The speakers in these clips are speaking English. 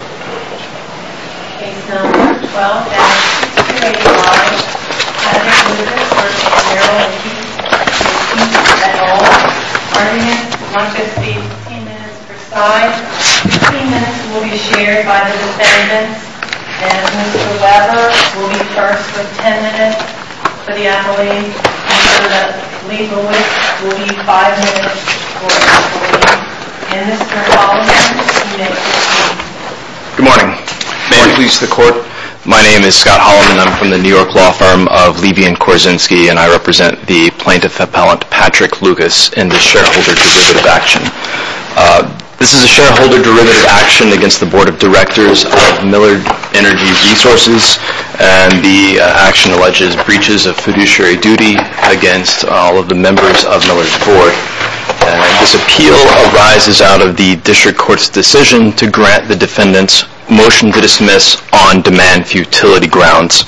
Case No. 12-6285, Kennedy v. Merrill McPeak, McPeak v. Owens. Arguments, one could speak 15 minutes per side. 15 minutes will be shared by the defendants, and Mr. Weber will be charged with 10 minutes for the affidavit, and Mr. Leibowitz will be charged with 5 minutes for the affidavit. Mr. Holloman, you may proceed. Good morning. May it please the Court. My name is Scott Holloman. I'm from the New York law firm of Levy & Korzynski, and I represent the plaintiff appellant Patrick Lukas in this shareholder derivative action. This is a shareholder derivative action against the Board of Directors of Millard Energy Resources, and the action alleges breaches of fiduciary duty against all of the members of Millard's Board. This appeal arises out of the district court's decision to grant the defendants' motion to dismiss on-demand futility grounds.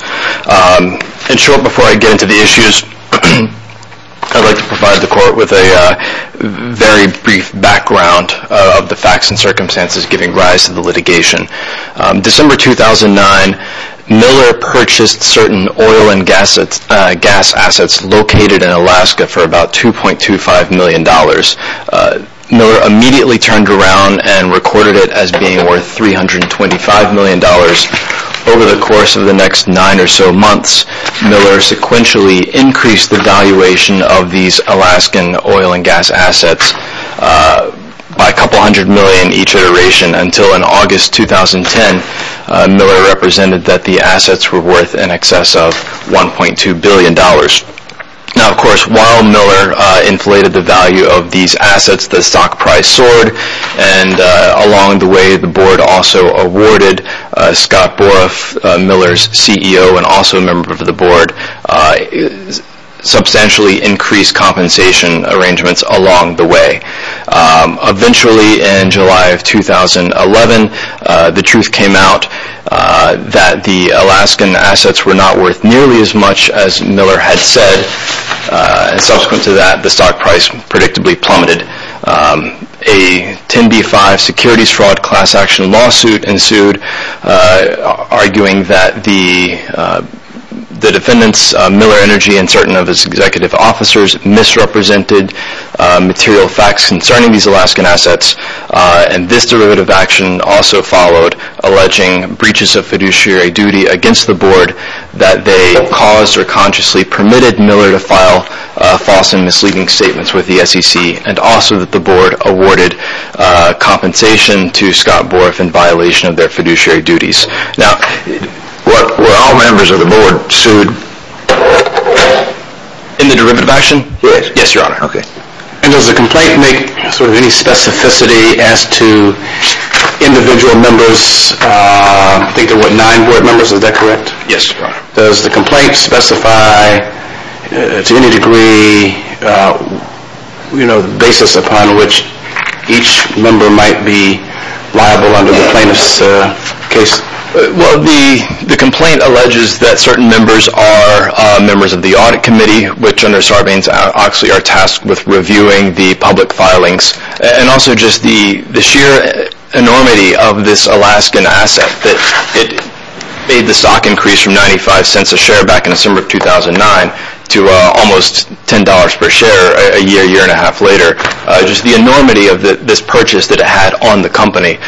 In short, before I get into the issues, I'd like to provide the Court with a very brief background of the facts and circumstances giving rise to the litigation. December 2009, Millard purchased certain oil and gas assets located in Alaska for about $2.25 million. Millard immediately turned around and recorded it as being worth $325 million. Over the course of the next nine or so months, Millard sequentially increased the valuation of these Alaskan oil and gas assets by a couple hundred million each iteration until, in August 2010, Millard represented that the assets were worth in excess of $1.2 billion. Now, of course, while Millard inflated the value of these assets, the stock price soared, and along the way, the Board also awarded Scott Boroff, Millard's CEO and also a member of the Board, substantially increased compensation arrangements along the way. Eventually, in July of 2011, the truth came out that the Alaskan assets were not worth nearly as much as Miller had said, and subsequent to that, the stock price predictably plummeted. A 10b-5 securities fraud class action lawsuit ensued, arguing that the defendants, Miller Energy and certain of its executive officers, misrepresented material facts concerning these Alaskan assets, and this derivative action also followed, alleging breaches of fiduciary duty against the Board that they caused or consciously permitted Miller to file false and misleading statements with the SEC and also that the Board awarded compensation to Scott Boroff in violation of their fiduciary duties. Now, were all members of the Board sued in the derivative action? Yes, Your Honor. Okay. And does the complaint make sort of any specificity as to individual members? I think there were nine Board members, is that correct? Yes, Your Honor. Does the complaint specify to any degree the basis upon which each member might be liable under the plaintiff's case? Well, the complaint alleges that certain members are members of the Audit Committee, which under Sarbanes-Oxley are tasked with reviewing the public filings, and also just the sheer enormity of this Alaskan asset, that it made the stock increase from 95 cents a share back in December of 2009 to almost $10 per share a year, a year and a half later, just the enormity of this purchase that it had on the company.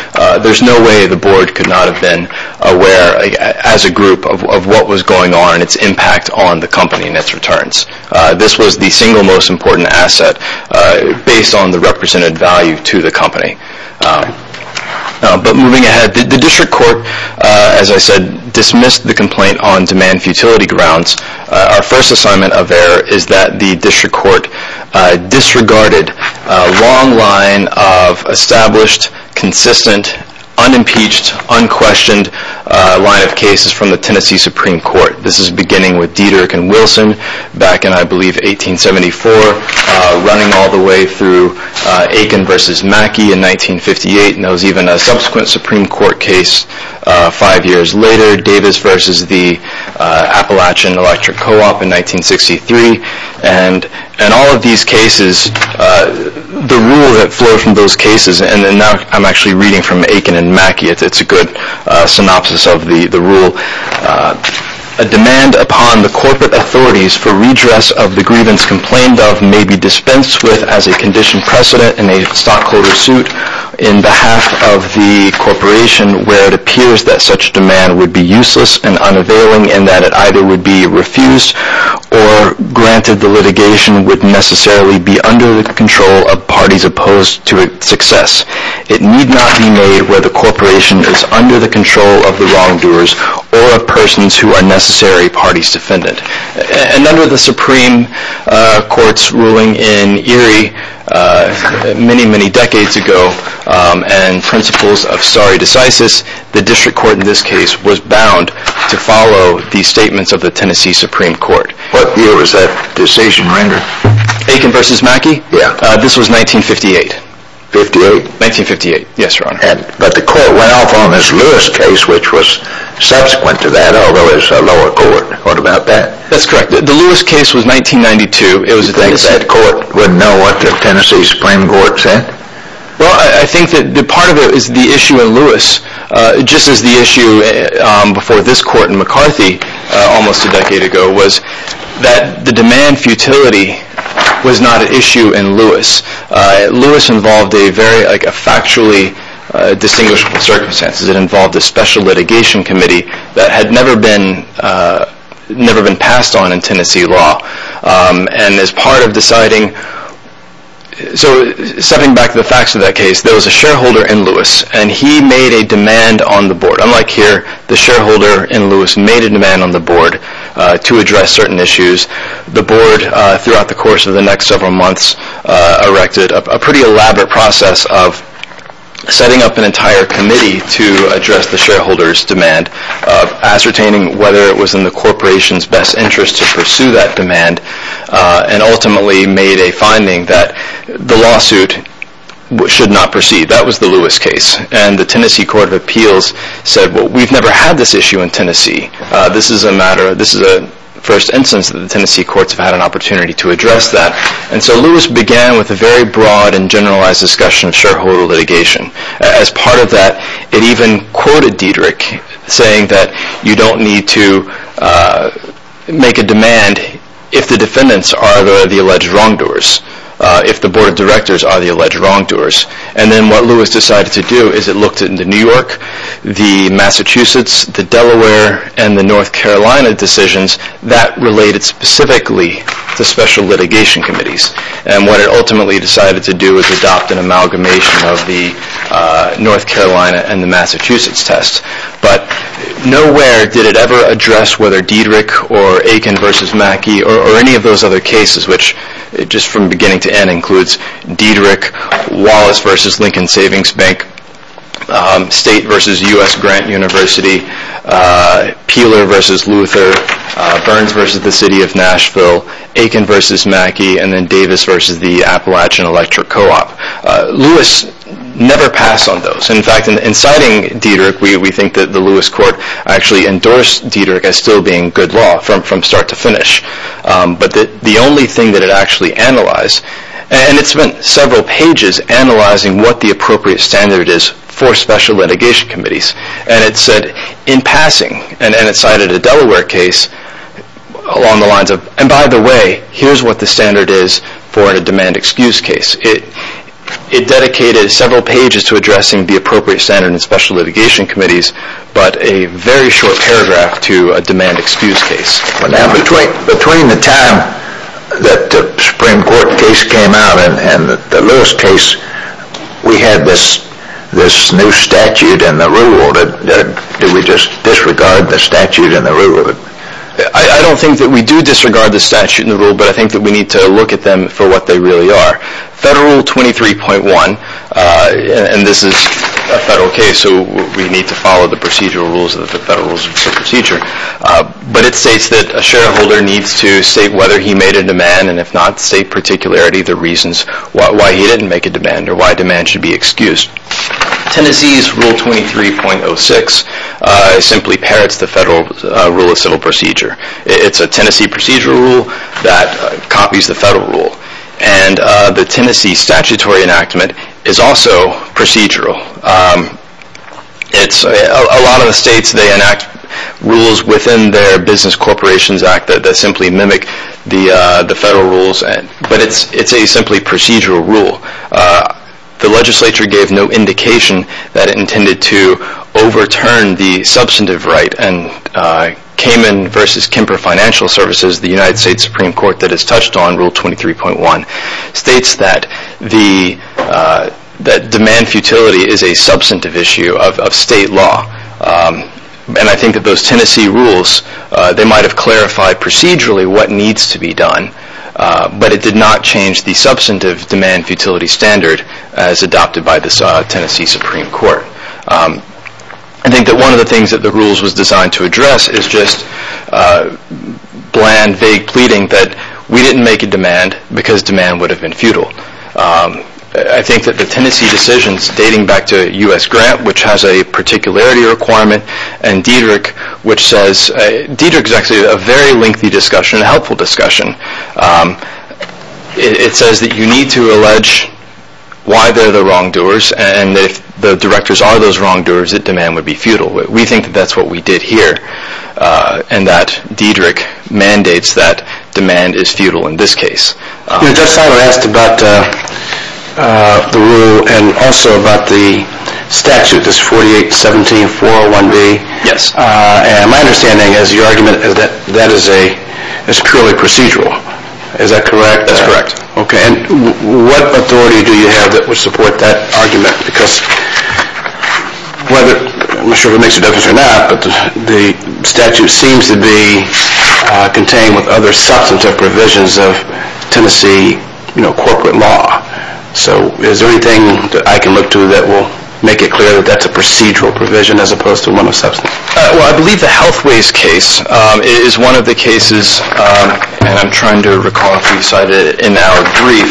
There's no way the Board could not have been aware as a group of what was going on and its impact on the company and its returns. This was the single most important asset based on the represented value to the company. But moving ahead, the District Court, as I said, dismissed the complaint on demand futility grounds. Our first assignment of error is that the District Court disregarded a long line of established, consistent, unimpeached, unquestioned line of cases from the Tennessee Supreme Court. This is beginning with Dietrich and Wilson back in, I believe, 1874, running all the way through Aiken v. Mackey in 1958, and there was even a subsequent Supreme Court case five years later, Davis v. the Appalachian Electric Co-op in 1963. And all of these cases, the rule that flowed from those cases, and now I'm actually reading from Aiken and Mackey, it's a good synopsis of the rule. A demand upon the corporate authorities for redress of the grievance complained of may be dispensed with as a condition precedent in a stockholder suit in behalf of the corporation where it appears that such demand would be useless and unavailing and that it either would be refused or granted the litigation would necessarily be under the control of parties opposed to its success. It need not be made where the corporation is under the control of the wrongdoers or of persons who are necessary parties defendant. And under the Supreme Court's ruling in Erie many, many decades ago and principles of stare decisis, the District Court in this case was bound to follow the statements of the Tennessee Supreme Court. What year was that decision rendered? Aiken v. Mackey? Yeah. This was 1958. 1958? 1958. Yes, Your Honor. But the court went off on this Lewis case which was subsequent to that although it was a lower court. What about that? That's correct. The Lewis case was 1992. Do you think that court would know what the Tennessee Supreme Court said? Well, I think that part of it is the issue in Lewis. Just as the issue before this court in McCarthy almost a decade ago was that the demand futility was not an issue in Lewis. Lewis involved a very factually distinguishable circumstance. It involved a special litigation committee that had never been passed on in Tennessee law. And as part of deciding, so stepping back to the facts of that case, there was a shareholder in Lewis and he made a demand on the board. Unlike here, the shareholder in Lewis made a demand on the board to address certain issues. The board, throughout the course of the next several months, erected a pretty elaborate process of setting up an entire committee to address the shareholder's demand, ascertaining whether it was in the corporation's best interest to pursue that demand, and ultimately made a finding that the lawsuit should not proceed. That was the Lewis case. And the Tennessee Court of Appeals said, well, we've never had this issue in Tennessee. This is a first instance that the Tennessee courts have had an opportunity to address that. And so Lewis began with a very broad and generalized discussion of shareholder litigation. As part of that, it even quoted Dederich, saying that you don't need to make a demand if the defendants are the alleged wrongdoers, if the board of directors are the alleged wrongdoers. And then what Lewis decided to do is it looked into New York, the Massachusetts, the Delaware, and the North Carolina decisions that related specifically to special litigation committees. And what it ultimately decided to do is adopt an amalgamation of the North Carolina and the Massachusetts test. But nowhere did it ever address whether Dederich or Aiken versus Mackey or any of those other cases, which just from beginning to end includes Dederich, Wallace versus Lincoln Savings Bank, State versus U.S. Grant University, Peeler versus Luther, Burns versus the city of Nashville, Aiken versus Mackey, and then Davis versus the Appalachian Electric Co-op. Lewis never passed on those. In fact, in citing Dederich, we think that the Lewis court actually endorsed Dederich as still being good law from start to finish. But the only thing that it actually analyzed, and it spent several pages analyzing what the appropriate standard is for special litigation committees. And it said in passing, and it cited a Delaware case along the lines of, and by the way, here's what the standard is for a demand excuse case. It dedicated several pages to addressing the appropriate standard in special litigation committees, but a very short paragraph to a demand excuse case. Now, between the time that the Supreme Court case came out and the Lewis case, we had this new statute and the rule. Did we just disregard the statute and the rule? I don't think that we do disregard the statute and the rule, but I think that we need to look at them for what they really are. Federal 23.1, and this is a federal case, so we need to follow the procedural rules of the federal procedure. But it states that a shareholder needs to state whether he made a demand, and if not state particularity the reasons why he didn't make a demand or why a demand should be excused. Tennessee's Rule 23.06 simply parrots the federal rule of civil procedure. It's a Tennessee procedural rule that copies the federal rule. And the Tennessee statutory enactment is also procedural. A lot of the states, they enact rules within their Business Corporations Act that simply mimic the federal rules, but it's a simply procedural rule. The legislature gave no indication that it intended to overturn the substantive right, and Cayman v. Kemper Financial Services, the United States Supreme Court that has touched on Rule 23.1, states that demand futility is a substantive issue of state law. And I think that those Tennessee rules, they might have clarified procedurally what needs to be done, but it did not change the substantive demand futility standard as adopted by the Tennessee Supreme Court. I think that one of the things that the rules was designed to address is just bland, vague pleading that we didn't make a demand because demand would have been futile. I think that the Tennessee decisions dating back to U.S. Grant, which has a particularity requirement, and Diederick, which says – Diederick's actually a very lengthy discussion, a helpful discussion. It says that you need to allege why they're the wrongdoers, and if the directors are those wrongdoers, that demand would be futile. We think that that's what we did here, and that Diederick mandates that demand is futile in this case. You know, Judge Seiler asked about the rule and also about the statute, this 4817-401B. Yes. And my understanding is your argument is that that is a – it's purely procedural. Is that correct? That's correct. Okay, and what authority do you have that would support that argument? Because whether – I'm not sure if it makes a difference or not, but the statute seems to be contained with other substantive provisions of Tennessee, you know, corporate law. So is there anything that I can look to that will make it clear that that's a procedural provision as opposed to one of substantive? Well, I believe the Healthways case is one of the cases – and I'm trying to recall if you cited it in our brief.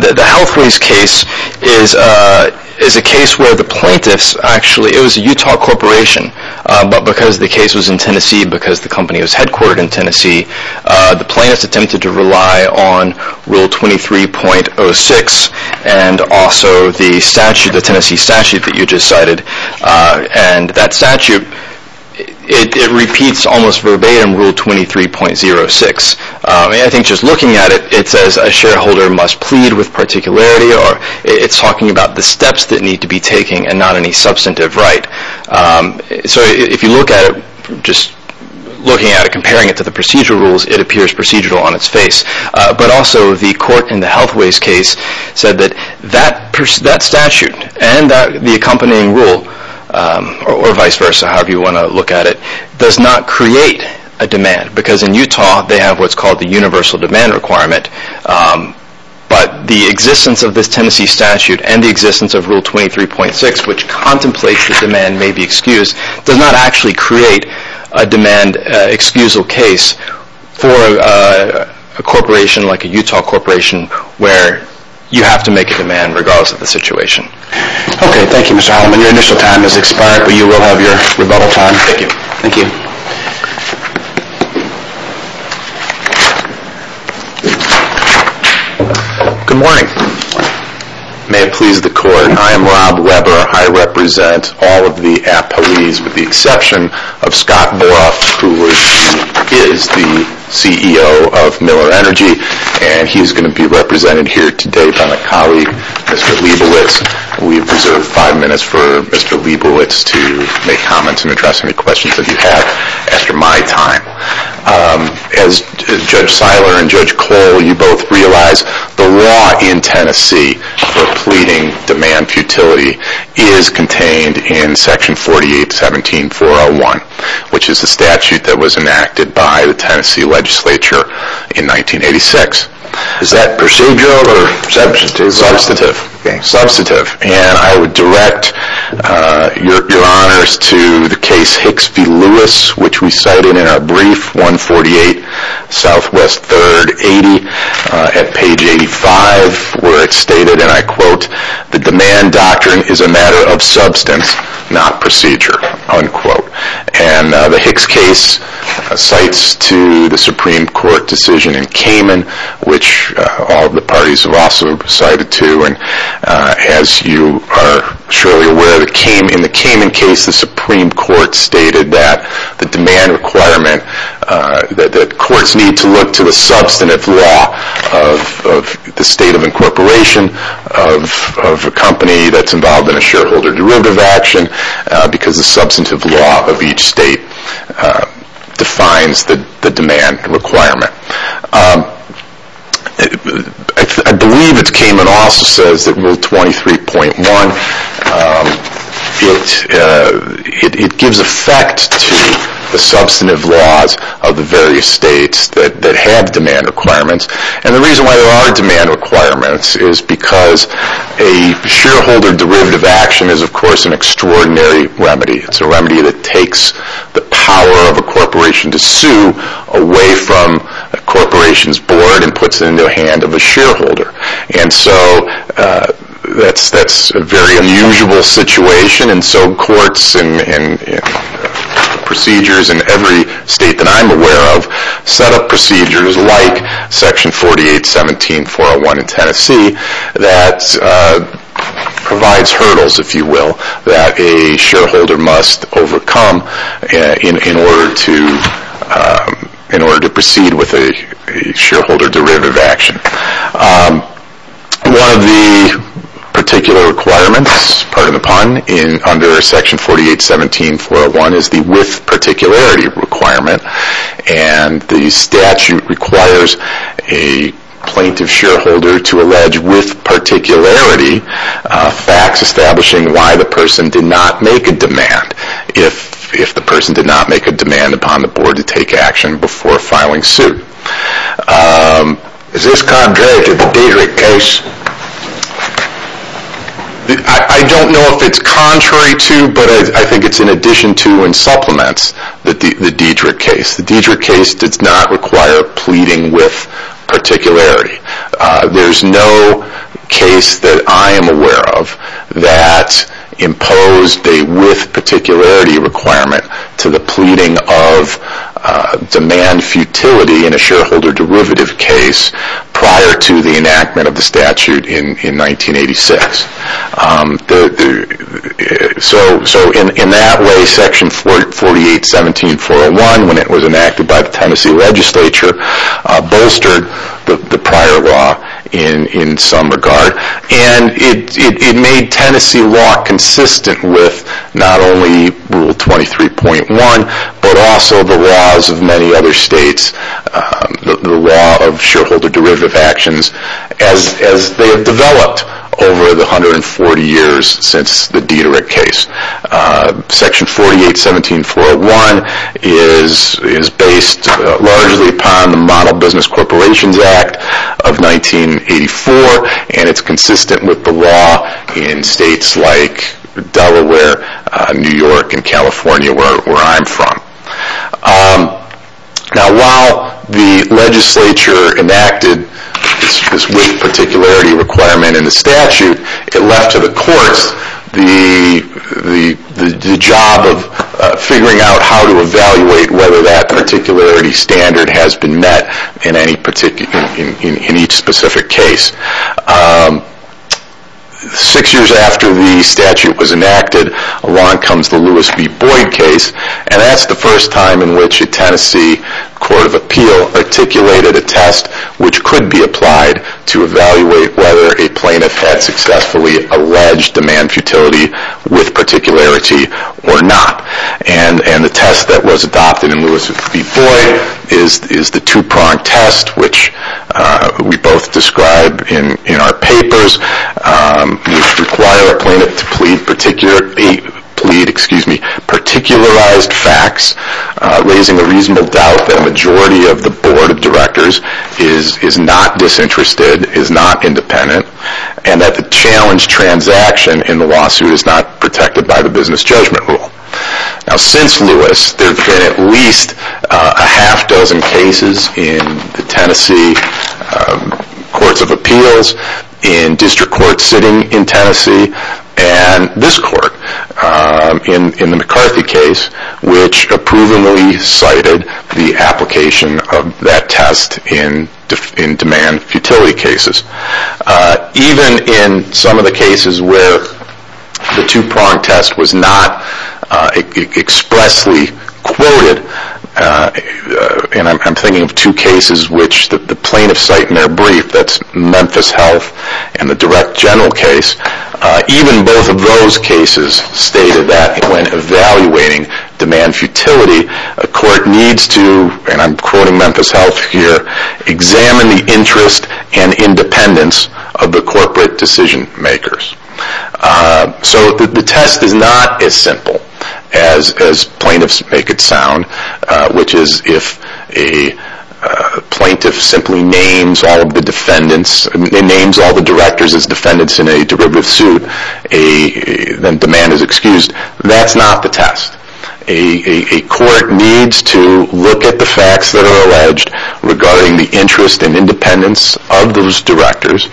The Healthways case is a case where the plaintiffs actually – it was a Utah corporation, but because the case was in Tennessee, because the company was headquartered in Tennessee, the plaintiffs attempted to rely on Rule 23.06 and also the statute, the Tennessee statute that you just cited. And that statute, it repeats almost verbatim Rule 23.06. I think just looking at it, it says a shareholder must plead with particularity or it's talking about the steps that need to be taken and not any substantive right. So if you look at it, just looking at it, comparing it to the procedural rules, it appears procedural on its face. But also the court in the Healthways case said that that statute and the accompanying rule, or vice versa, however you want to look at it, does not create a demand. Because in Utah, they have what's called the universal demand requirement. But the existence of this Tennessee statute and the existence of Rule 23.06, which contemplates the demand may be excused, does not actually create a demand excusal case for a corporation like a Utah corporation where you have to make a demand regardless of the situation. Okay. Thank you, Mr. Holliman. Your initial time has expired, but you will have your rebuttal time. Thank you. Good morning. May it please the court, I am Rob Weber. I represent all of the appellees with the exception of Scott Boroff, who is the CEO of Miller Energy. And he is going to be represented here today by my colleague, Mr. Leibowitz. We reserve five minutes for Mr. Leibowitz to make comments and address any questions that you have after my time. As Judge Seiler and Judge Cole, you both realize the law in Tennessee for pleading demand futility is contained in Section 48-17-401, which is the statute that was enacted by the Tennessee legislature in 1986. Is that procedural or substantive? Substantive. Substantive. And I would direct your honors to the case Hicks v. Lewis, which we cited in our brief, 148 SW 3rd 80 at page 85, where it stated, and I quote, the demand doctrine is a matter of substance, not procedure, unquote. And the Hicks case cites to the Supreme Court decision in Cayman, which all of the parties have also cited to. And as you are surely aware, in the Cayman case, the Supreme Court stated that the demand requirement, that courts need to look to the substantive law of the state of incorporation of a company that's involved in a shareholder derivative action because the substantive law of each state defines the demand requirement. I believe that Cayman also says that Rule 23.1, it gives effect to the substantive laws of the various states that have demand requirements. And the reason why there are demand requirements is because a shareholder derivative action is, of course, an extraordinary remedy. It's a remedy that takes the power of a corporation to sue away from a corporation's board and puts it into the hand of a shareholder. And so that's a very unusual situation. And so courts and procedures in every state that I'm aware of set up procedures like Section 48.17.401 in Tennessee that provides hurdles, if you will, that a shareholder must overcome in order to proceed with a shareholder derivative action. One of the particular requirements, pardon the pun, under Section 48.17.401 is the with particularity requirement. And the statute requires a plaintiff shareholder to allege with particularity facts establishing why the person did not make a demand if the person did not make a demand upon the board to take action before filing suit. Is this contrary to the Diedrich case? I don't know if it's contrary to, but I think it's in addition to and supplements the Diedrich case. The Diedrich case does not require pleading with particularity. There's no case that I am aware of that imposed a with particularity requirement to the pleading of demand futility in a shareholder derivative case prior to the enactment of the statute in 1986. So in that way, Section 48.17.401, when it was enacted by the Tennessee legislature, bolstered the prior law in some regard. And it made Tennessee law consistent with not only Rule 23.1, but also the laws of many other states, the law of shareholder derivative actions, as they have developed over the 140 years since the Diedrich case. Section 48.17.401 is based largely upon the Model Business Corporations Act of 1984, and it's consistent with the law in states like Delaware, New York, and California, where I'm from. Now while the legislature enacted this with particularity requirement in the statute, it left to the courts the job of figuring out how to evaluate whether that particularity standard has been met in each specific case. Six years after the statute was enacted, along comes the Lewis v. Boyd case, and that's the first time in which a Tennessee court of appeal articulated a test which could be applied to evaluate whether a plaintiff had successfully alleged demand futility with particularity or not. And the test that was adopted in Lewis v. Boyd is the two-pronged test, which we both describe in our papers, which require a plaintiff to plead particularized facts, raising a reasonable doubt that a majority of the board of directors is not disinterested, is not independent, and that the challenge transaction in the lawsuit is not protected by the business judgment rule. Now since Lewis, there have been at least a half dozen cases in the Tennessee courts of appeals, in district courts sitting in Tennessee, and this court, in the McCarthy case, which approvingly cited the application of that test in demand futility cases. Even in some of the cases where the two-pronged test was not expressly quoted, and I'm thinking of two cases which the plaintiff cite in their brief, that's Memphis Health and the direct general case, even both of those cases stated that when evaluating demand futility, a court needs to, and I'm quoting Memphis Health here, examine the interest and independence of the corporate decision makers. So the test is not as simple as plaintiffs make it sound, which is if a plaintiff simply names all the directors as defendants in a derivative suit, then demand is excused. That's not the test. A court needs to look at the facts that are alleged regarding the interest and independence of those directors,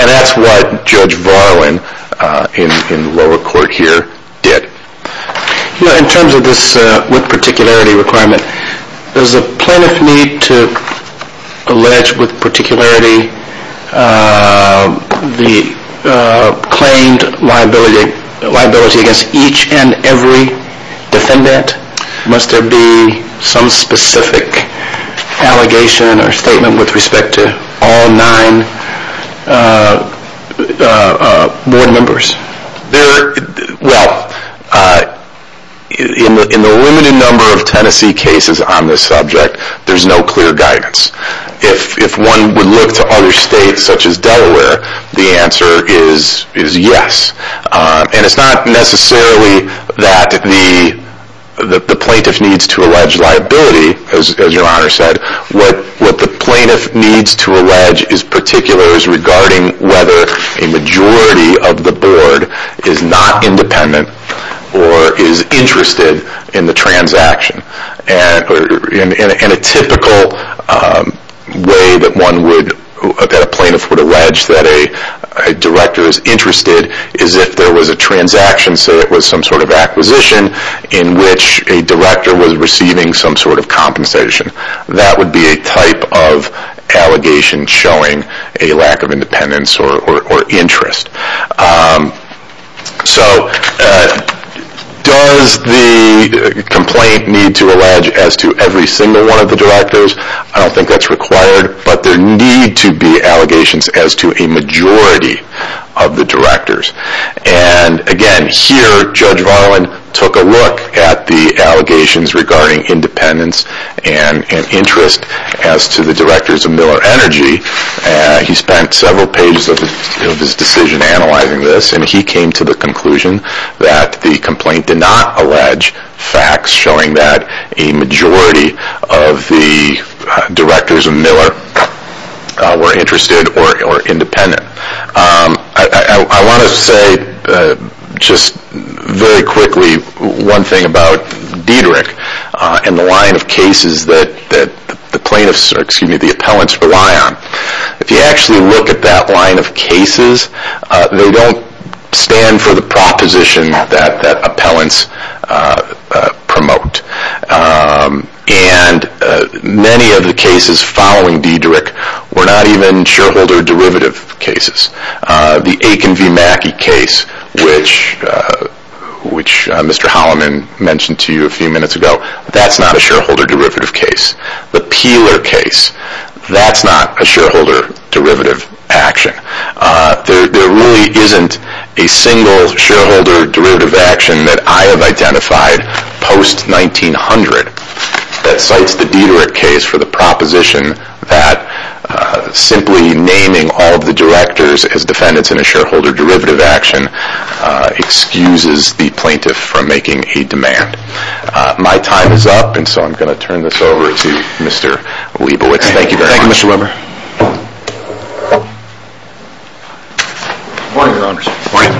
and that's what Judge Varlin, in lower court here, did. In terms of this with particularity requirement, does the plaintiff need to allege with particularity the claimed liability against each and every defendant? Must there be some specific allegation or statement with respect to all nine board members? Well, in the limited number of Tennessee cases on this subject, there's no clear guidance. If one would look to other states such as Delaware, the answer is yes. And it's not necessarily that the plaintiff needs to allege liability, as your Honor said. What the plaintiff needs to allege in particular is regarding whether a majority of the board is not independent or is interested in the transaction. And a typical way that a plaintiff would allege that a director is interested is if there was a transaction, say it was some sort of acquisition, in which a director was receiving some sort of compensation. That would be a type of allegation showing a lack of independence or interest. So does the complaint need to allege as to every single one of the directors? I don't think that's required, but there need to be allegations as to a majority of the directors. And again, here Judge Varlin took a look at the allegations regarding independence and interest as to the directors of Miller Energy. He spent several pages of his decision analyzing this, and he came to the conclusion that the complaint did not allege facts showing that a majority of the directors of Miller were interested or independent. I want to say just very quickly one thing about Dederich and the line of cases that the plaintiffs, or excuse me, the appellants rely on. If you actually look at that line of cases, they don't stand for the proposition that appellants promote. And many of the cases following Dederich were not even shareholder derivative cases. The Aiken v. Mackey case, which Mr. Holliman mentioned to you a few minutes ago, that's not a shareholder derivative case. The Peeler case, that's not a shareholder derivative action. There really isn't a single shareholder derivative action that I have identified post-1900 that cites the Dederich case for the proposition that simply naming all of the directors as defendants in a shareholder derivative action excuses the plaintiff from making a demand. My time is up, and so I'm going to turn this over to Mr. Wiebowicz. Thank you very much. Thank you, Mr. Weber. Good morning, Your Honors. Good morning.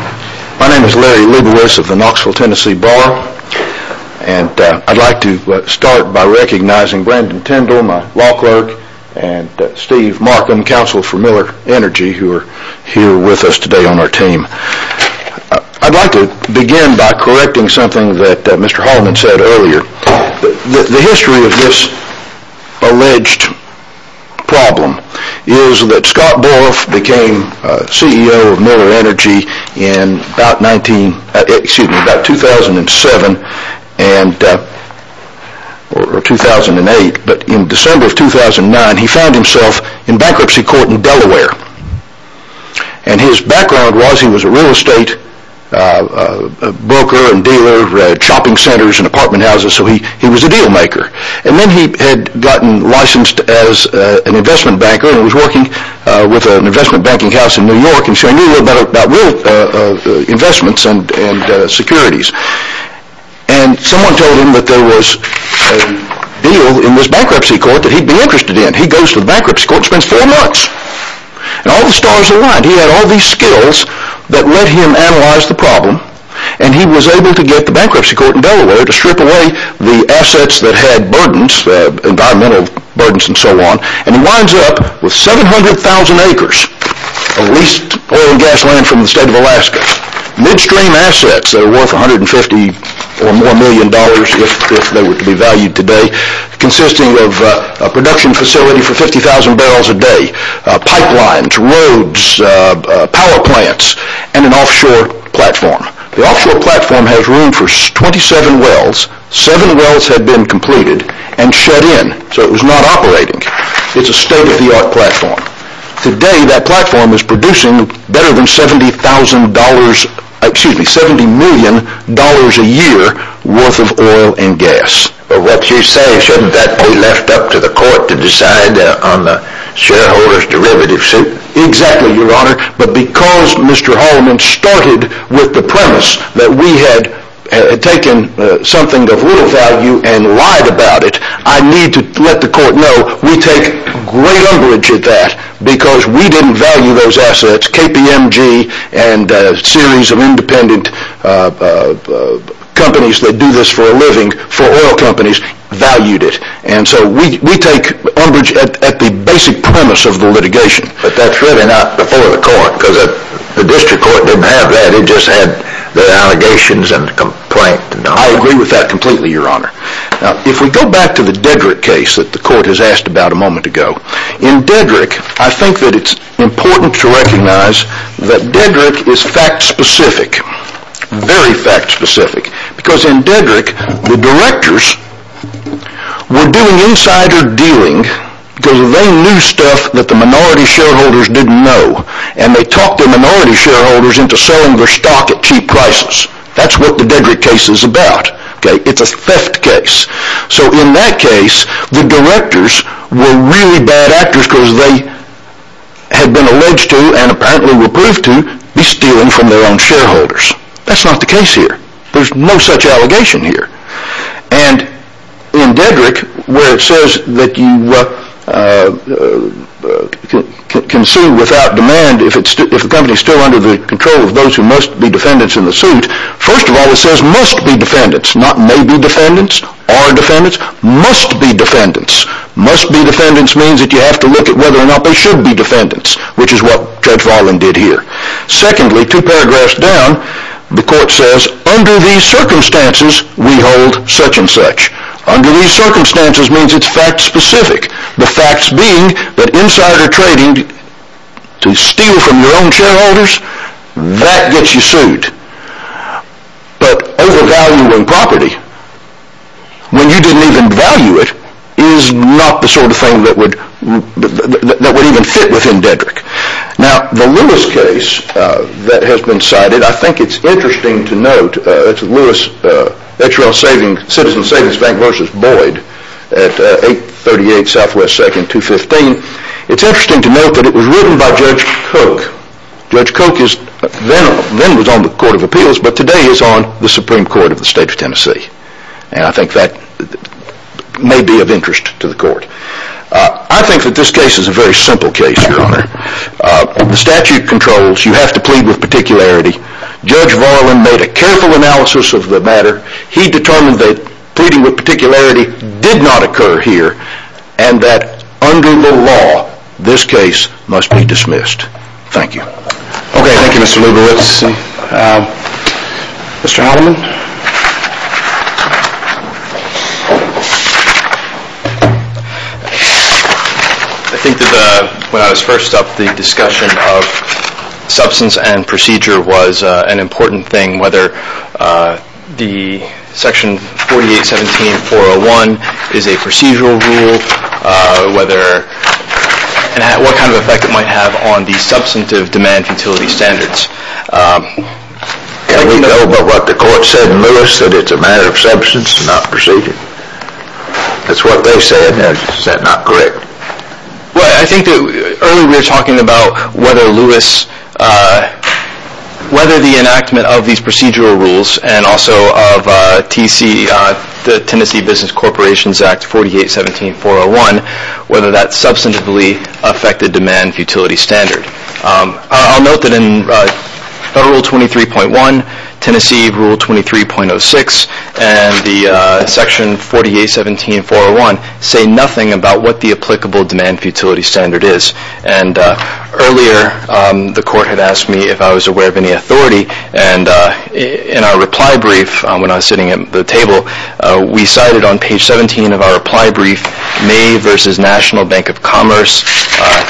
My name is Larry Wiebowicz of the Knoxville, Tennessee Bar, and I'd like to start by recognizing Brandon Tindall, my law clerk, and Steve Markin, counsel for Miller Energy, who are here with us today on our team. I'd like to begin by correcting something that Mr. Holliman said earlier. The history of this alleged problem is that Scott Borff became CEO of Miller Energy in about 2007 or 2008, but in December of 2009, he found himself in bankruptcy court in Delaware. And his background was he was a real estate broker and dealer, shopping centers and apartment houses, so he was a dealmaker. And then he had gotten licensed as an investment banker and was working with an investment banking house in New York and sharing a little bit about real investments and securities. And someone told him that there was a deal in this bankruptcy court that he'd be interested in. He goes to the bankruptcy court and spends four months. And all the stars aligned. He had all these skills that let him analyze the problem, and he was able to get the bankruptcy court in Delaware to strip away the assets that had burdens, environmental burdens and so on, and he winds up with 700,000 acres of leased oil and gas land from the state of Alaska. Midstream assets that are worth $150 or more million if they were to be valued today, consisting of a production facility for 50,000 barrels a day, pipelines, roads, power plants, and an offshore platform. The offshore platform has room for 27 wells. Seven wells had been completed and shut in, so it was not operating. It's a state-of-the-art platform. Today, that platform is producing better than $70 million a year worth of oil and gas. But what you say, shouldn't that be left up to the court to decide on the shareholder's derivative suit? Exactly, Your Honor. But because Mr. Holliman started with the premise that we had taken something of little value and lied about it, I need to let the court know we take great umbrage at that because we didn't value those assets, KPMG and a series of independent companies that do this for a living, for oil companies, valued it. And so we take umbrage at the basic premise of the litigation. But that's really not before the court because the district court didn't have that. It just had the allegations and the complaint. I agree with that completely, Your Honor. Now, if we go back to the Dedrick case that the court has asked about a moment ago, in Dedrick, I think that it's important to recognize that Dedrick is fact-specific, very fact-specific, because in Dedrick, the directors were doing insider dealing because they knew stuff that the minority shareholders didn't know. And they talked the minority shareholders into selling their stock at cheap prices. That's what the Dedrick case is about. It's a theft case. So in that case, the directors were really bad actors because they had been alleged to and apparently were proved to be stealing from their own shareholders. That's not the case here. There's no such allegation here. And in Dedrick, where it says that you can sue without demand if the company is still under the control of those who must be defendants in the suit, first of all, it says must be defendants, not may be defendants, are defendants. Must be defendants. Must be defendants means that you have to look at whether or not they should be defendants, which is what Judge Voiland did here. Secondly, two paragraphs down, the court says, under these circumstances, we hold such and such. Under these circumstances means it's fact-specific. The facts being that insider trading to steal from your own shareholders, that gets you sued. But overvaluing property when you didn't even value it is not the sort of thing that would even fit within Dedrick. Now, the Lewis case that has been cited, I think it's interesting to note, it's Lewis, H.R.L. Citizens Savings Bank v. Boyd at 838 Southwest 2nd, 215. It's interesting to note that it was written by Judge Koch. Judge Koch then was on the Court of Appeals, but today he's on the Supreme Court of the State of Tennessee. And I think that may be of interest to the court. I think that this case is a very simple case, Your Honor. The statute controls. You have to plead with particularity. Judge Voiland made a careful analysis of the matter. He determined that pleading with particularity did not occur here and that under the law, this case must be dismissed. Thank you. Okay, thank you, Mr. Lieber. Let's see. Mr. Alleman? I think that when I was first up, the discussion of substance and procedure was an important thing, whether the Section 4817.401 is a procedural rule, what kind of effect it might have on the substantive demand utility standards. Can we know by what the court said in Lewis that it's a matter of substance and not procedure? That's what they said. Is that not correct? Well, I think that earlier we were talking about whether Lewis, whether the enactment of these procedural rules and also of TC, the Tennessee Business Corporations Act 4817.401, whether that substantively affected demand utility standard. I'll note that in Federal Rule 23.1, Tennessee Rule 23.06, and the Section 4817.401 say nothing about what the applicable demand utility standard is. And earlier the court had asked me if I was aware of any authority, and in our reply brief when I was sitting at the table, we cited on page 17 of our reply brief May versus National Bank of Commerce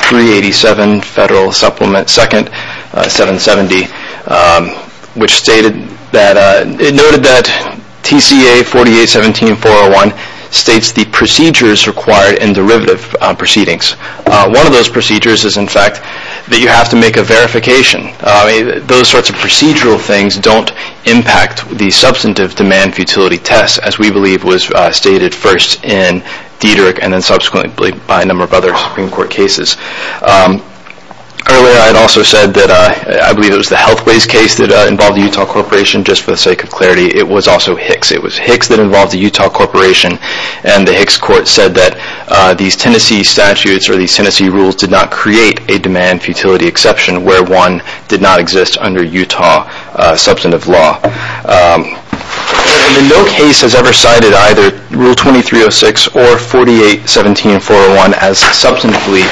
387, Federal Supplement 2nd, 770, which stated that, it noted that TCA 4817.401 states the procedures required in derivative proceedings. One of those procedures is, in fact, that you have to make a verification. Those sorts of procedural things don't impact the substantive demand utility test, as we believe was stated first in Dederich and then subsequently by a number of other Supreme Court cases. Earlier I had also said that I believe it was the Healthways case that involved the Utah Corporation. Just for the sake of clarity, it was also Hicks. It was Hicks that involved the Utah Corporation, and the Hicks court said that these Tennessee statutes or these Tennessee rules did not create a demand futility exception where one did not exist under Utah substantive law. No case has ever cited either Rule 2306 or 4817.401 as substantively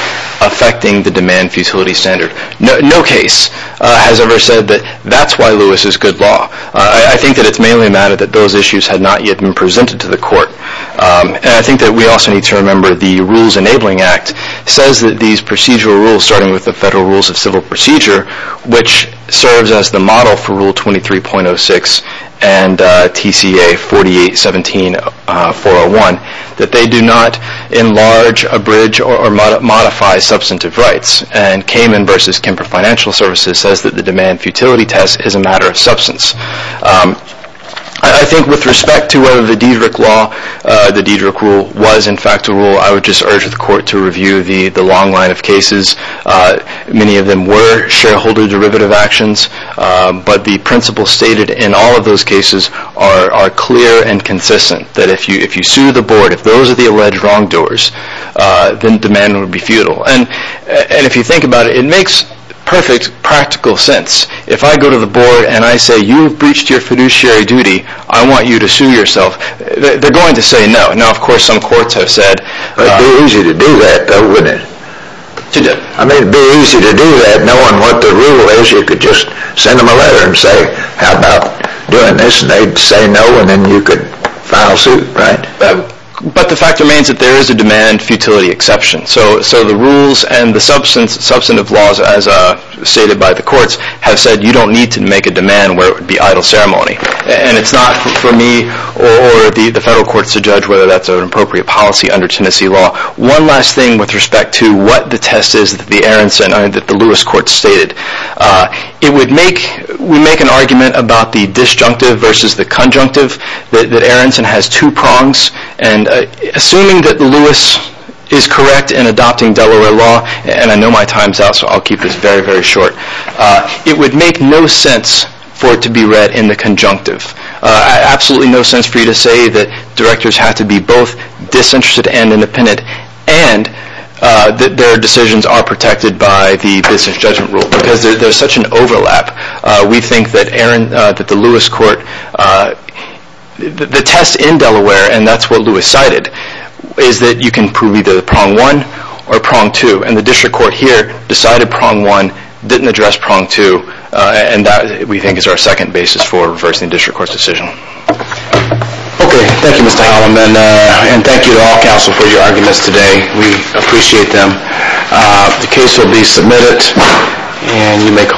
affecting the demand futility standard. No case has ever said that that's why Lewis is good law. I think that it's mainly a matter that those issues had not yet been presented to the court. And I think that we also need to remember the Rules Enabling Act says that these procedural rules, starting with the Federal Rules of Civil Procedure, which serves as the model for Rule 23.06 and TCA 4817.401, that they do not enlarge, abridge, or modify substantive rights. And Kamen v. Kemper Financial Services says that the demand futility test is a matter of substance. I think with respect to whether the Dederich rule was in fact a rule, I would just urge the court to review the long line of cases. Many of them were shareholder derivative actions, but the principles stated in all of those cases are clear and consistent, that if you sue the board, if those are the alleged wrongdoers, then demand would be futile. And if you think about it, it makes perfect practical sense. If I go to the board and I say, you've breached your fiduciary duty, I want you to sue yourself, they're going to say no. Now, of course, some courts have said... It'd be easy to do that, though, wouldn't it? It'd be easy to do that, knowing what the rule is. You could just send them a letter and say, how about doing this? And they'd say no, and then you could file suit, right? But the fact remains that there is a demand futility exception. So the rules and the substantive laws, as stated by the courts, have said you don't need to make a demand where it would be idle ceremony. And it's not for me or the federal courts to judge whether that's an appropriate policy under Tennessee law. One last thing with respect to what the test is that the Aaronson and the Lewis courts stated. We make an argument about the disjunctive versus the conjunctive, that Aaronson has two prongs, and assuming that Lewis is correct in adopting Delaware law, and I know my time's out, so I'll keep this very, very short, it would make no sense for it to be read in the conjunctive. Absolutely no sense for you to say that directors have to be both disinterested and independent, and that their decisions are protected by the business judgment rule, because there's such an overlap. We think that the test in Delaware, and that's what Lewis cited, is that you can prove either prong one or prong two, and the district court here decided prong one, didn't address prong two, and that we think is our second basis for reversing the district court's decision. Okay, thank you Mr. Hallam, and thank you to all counsel for your arguments today. We appreciate them. The case will be submitted, and you may call.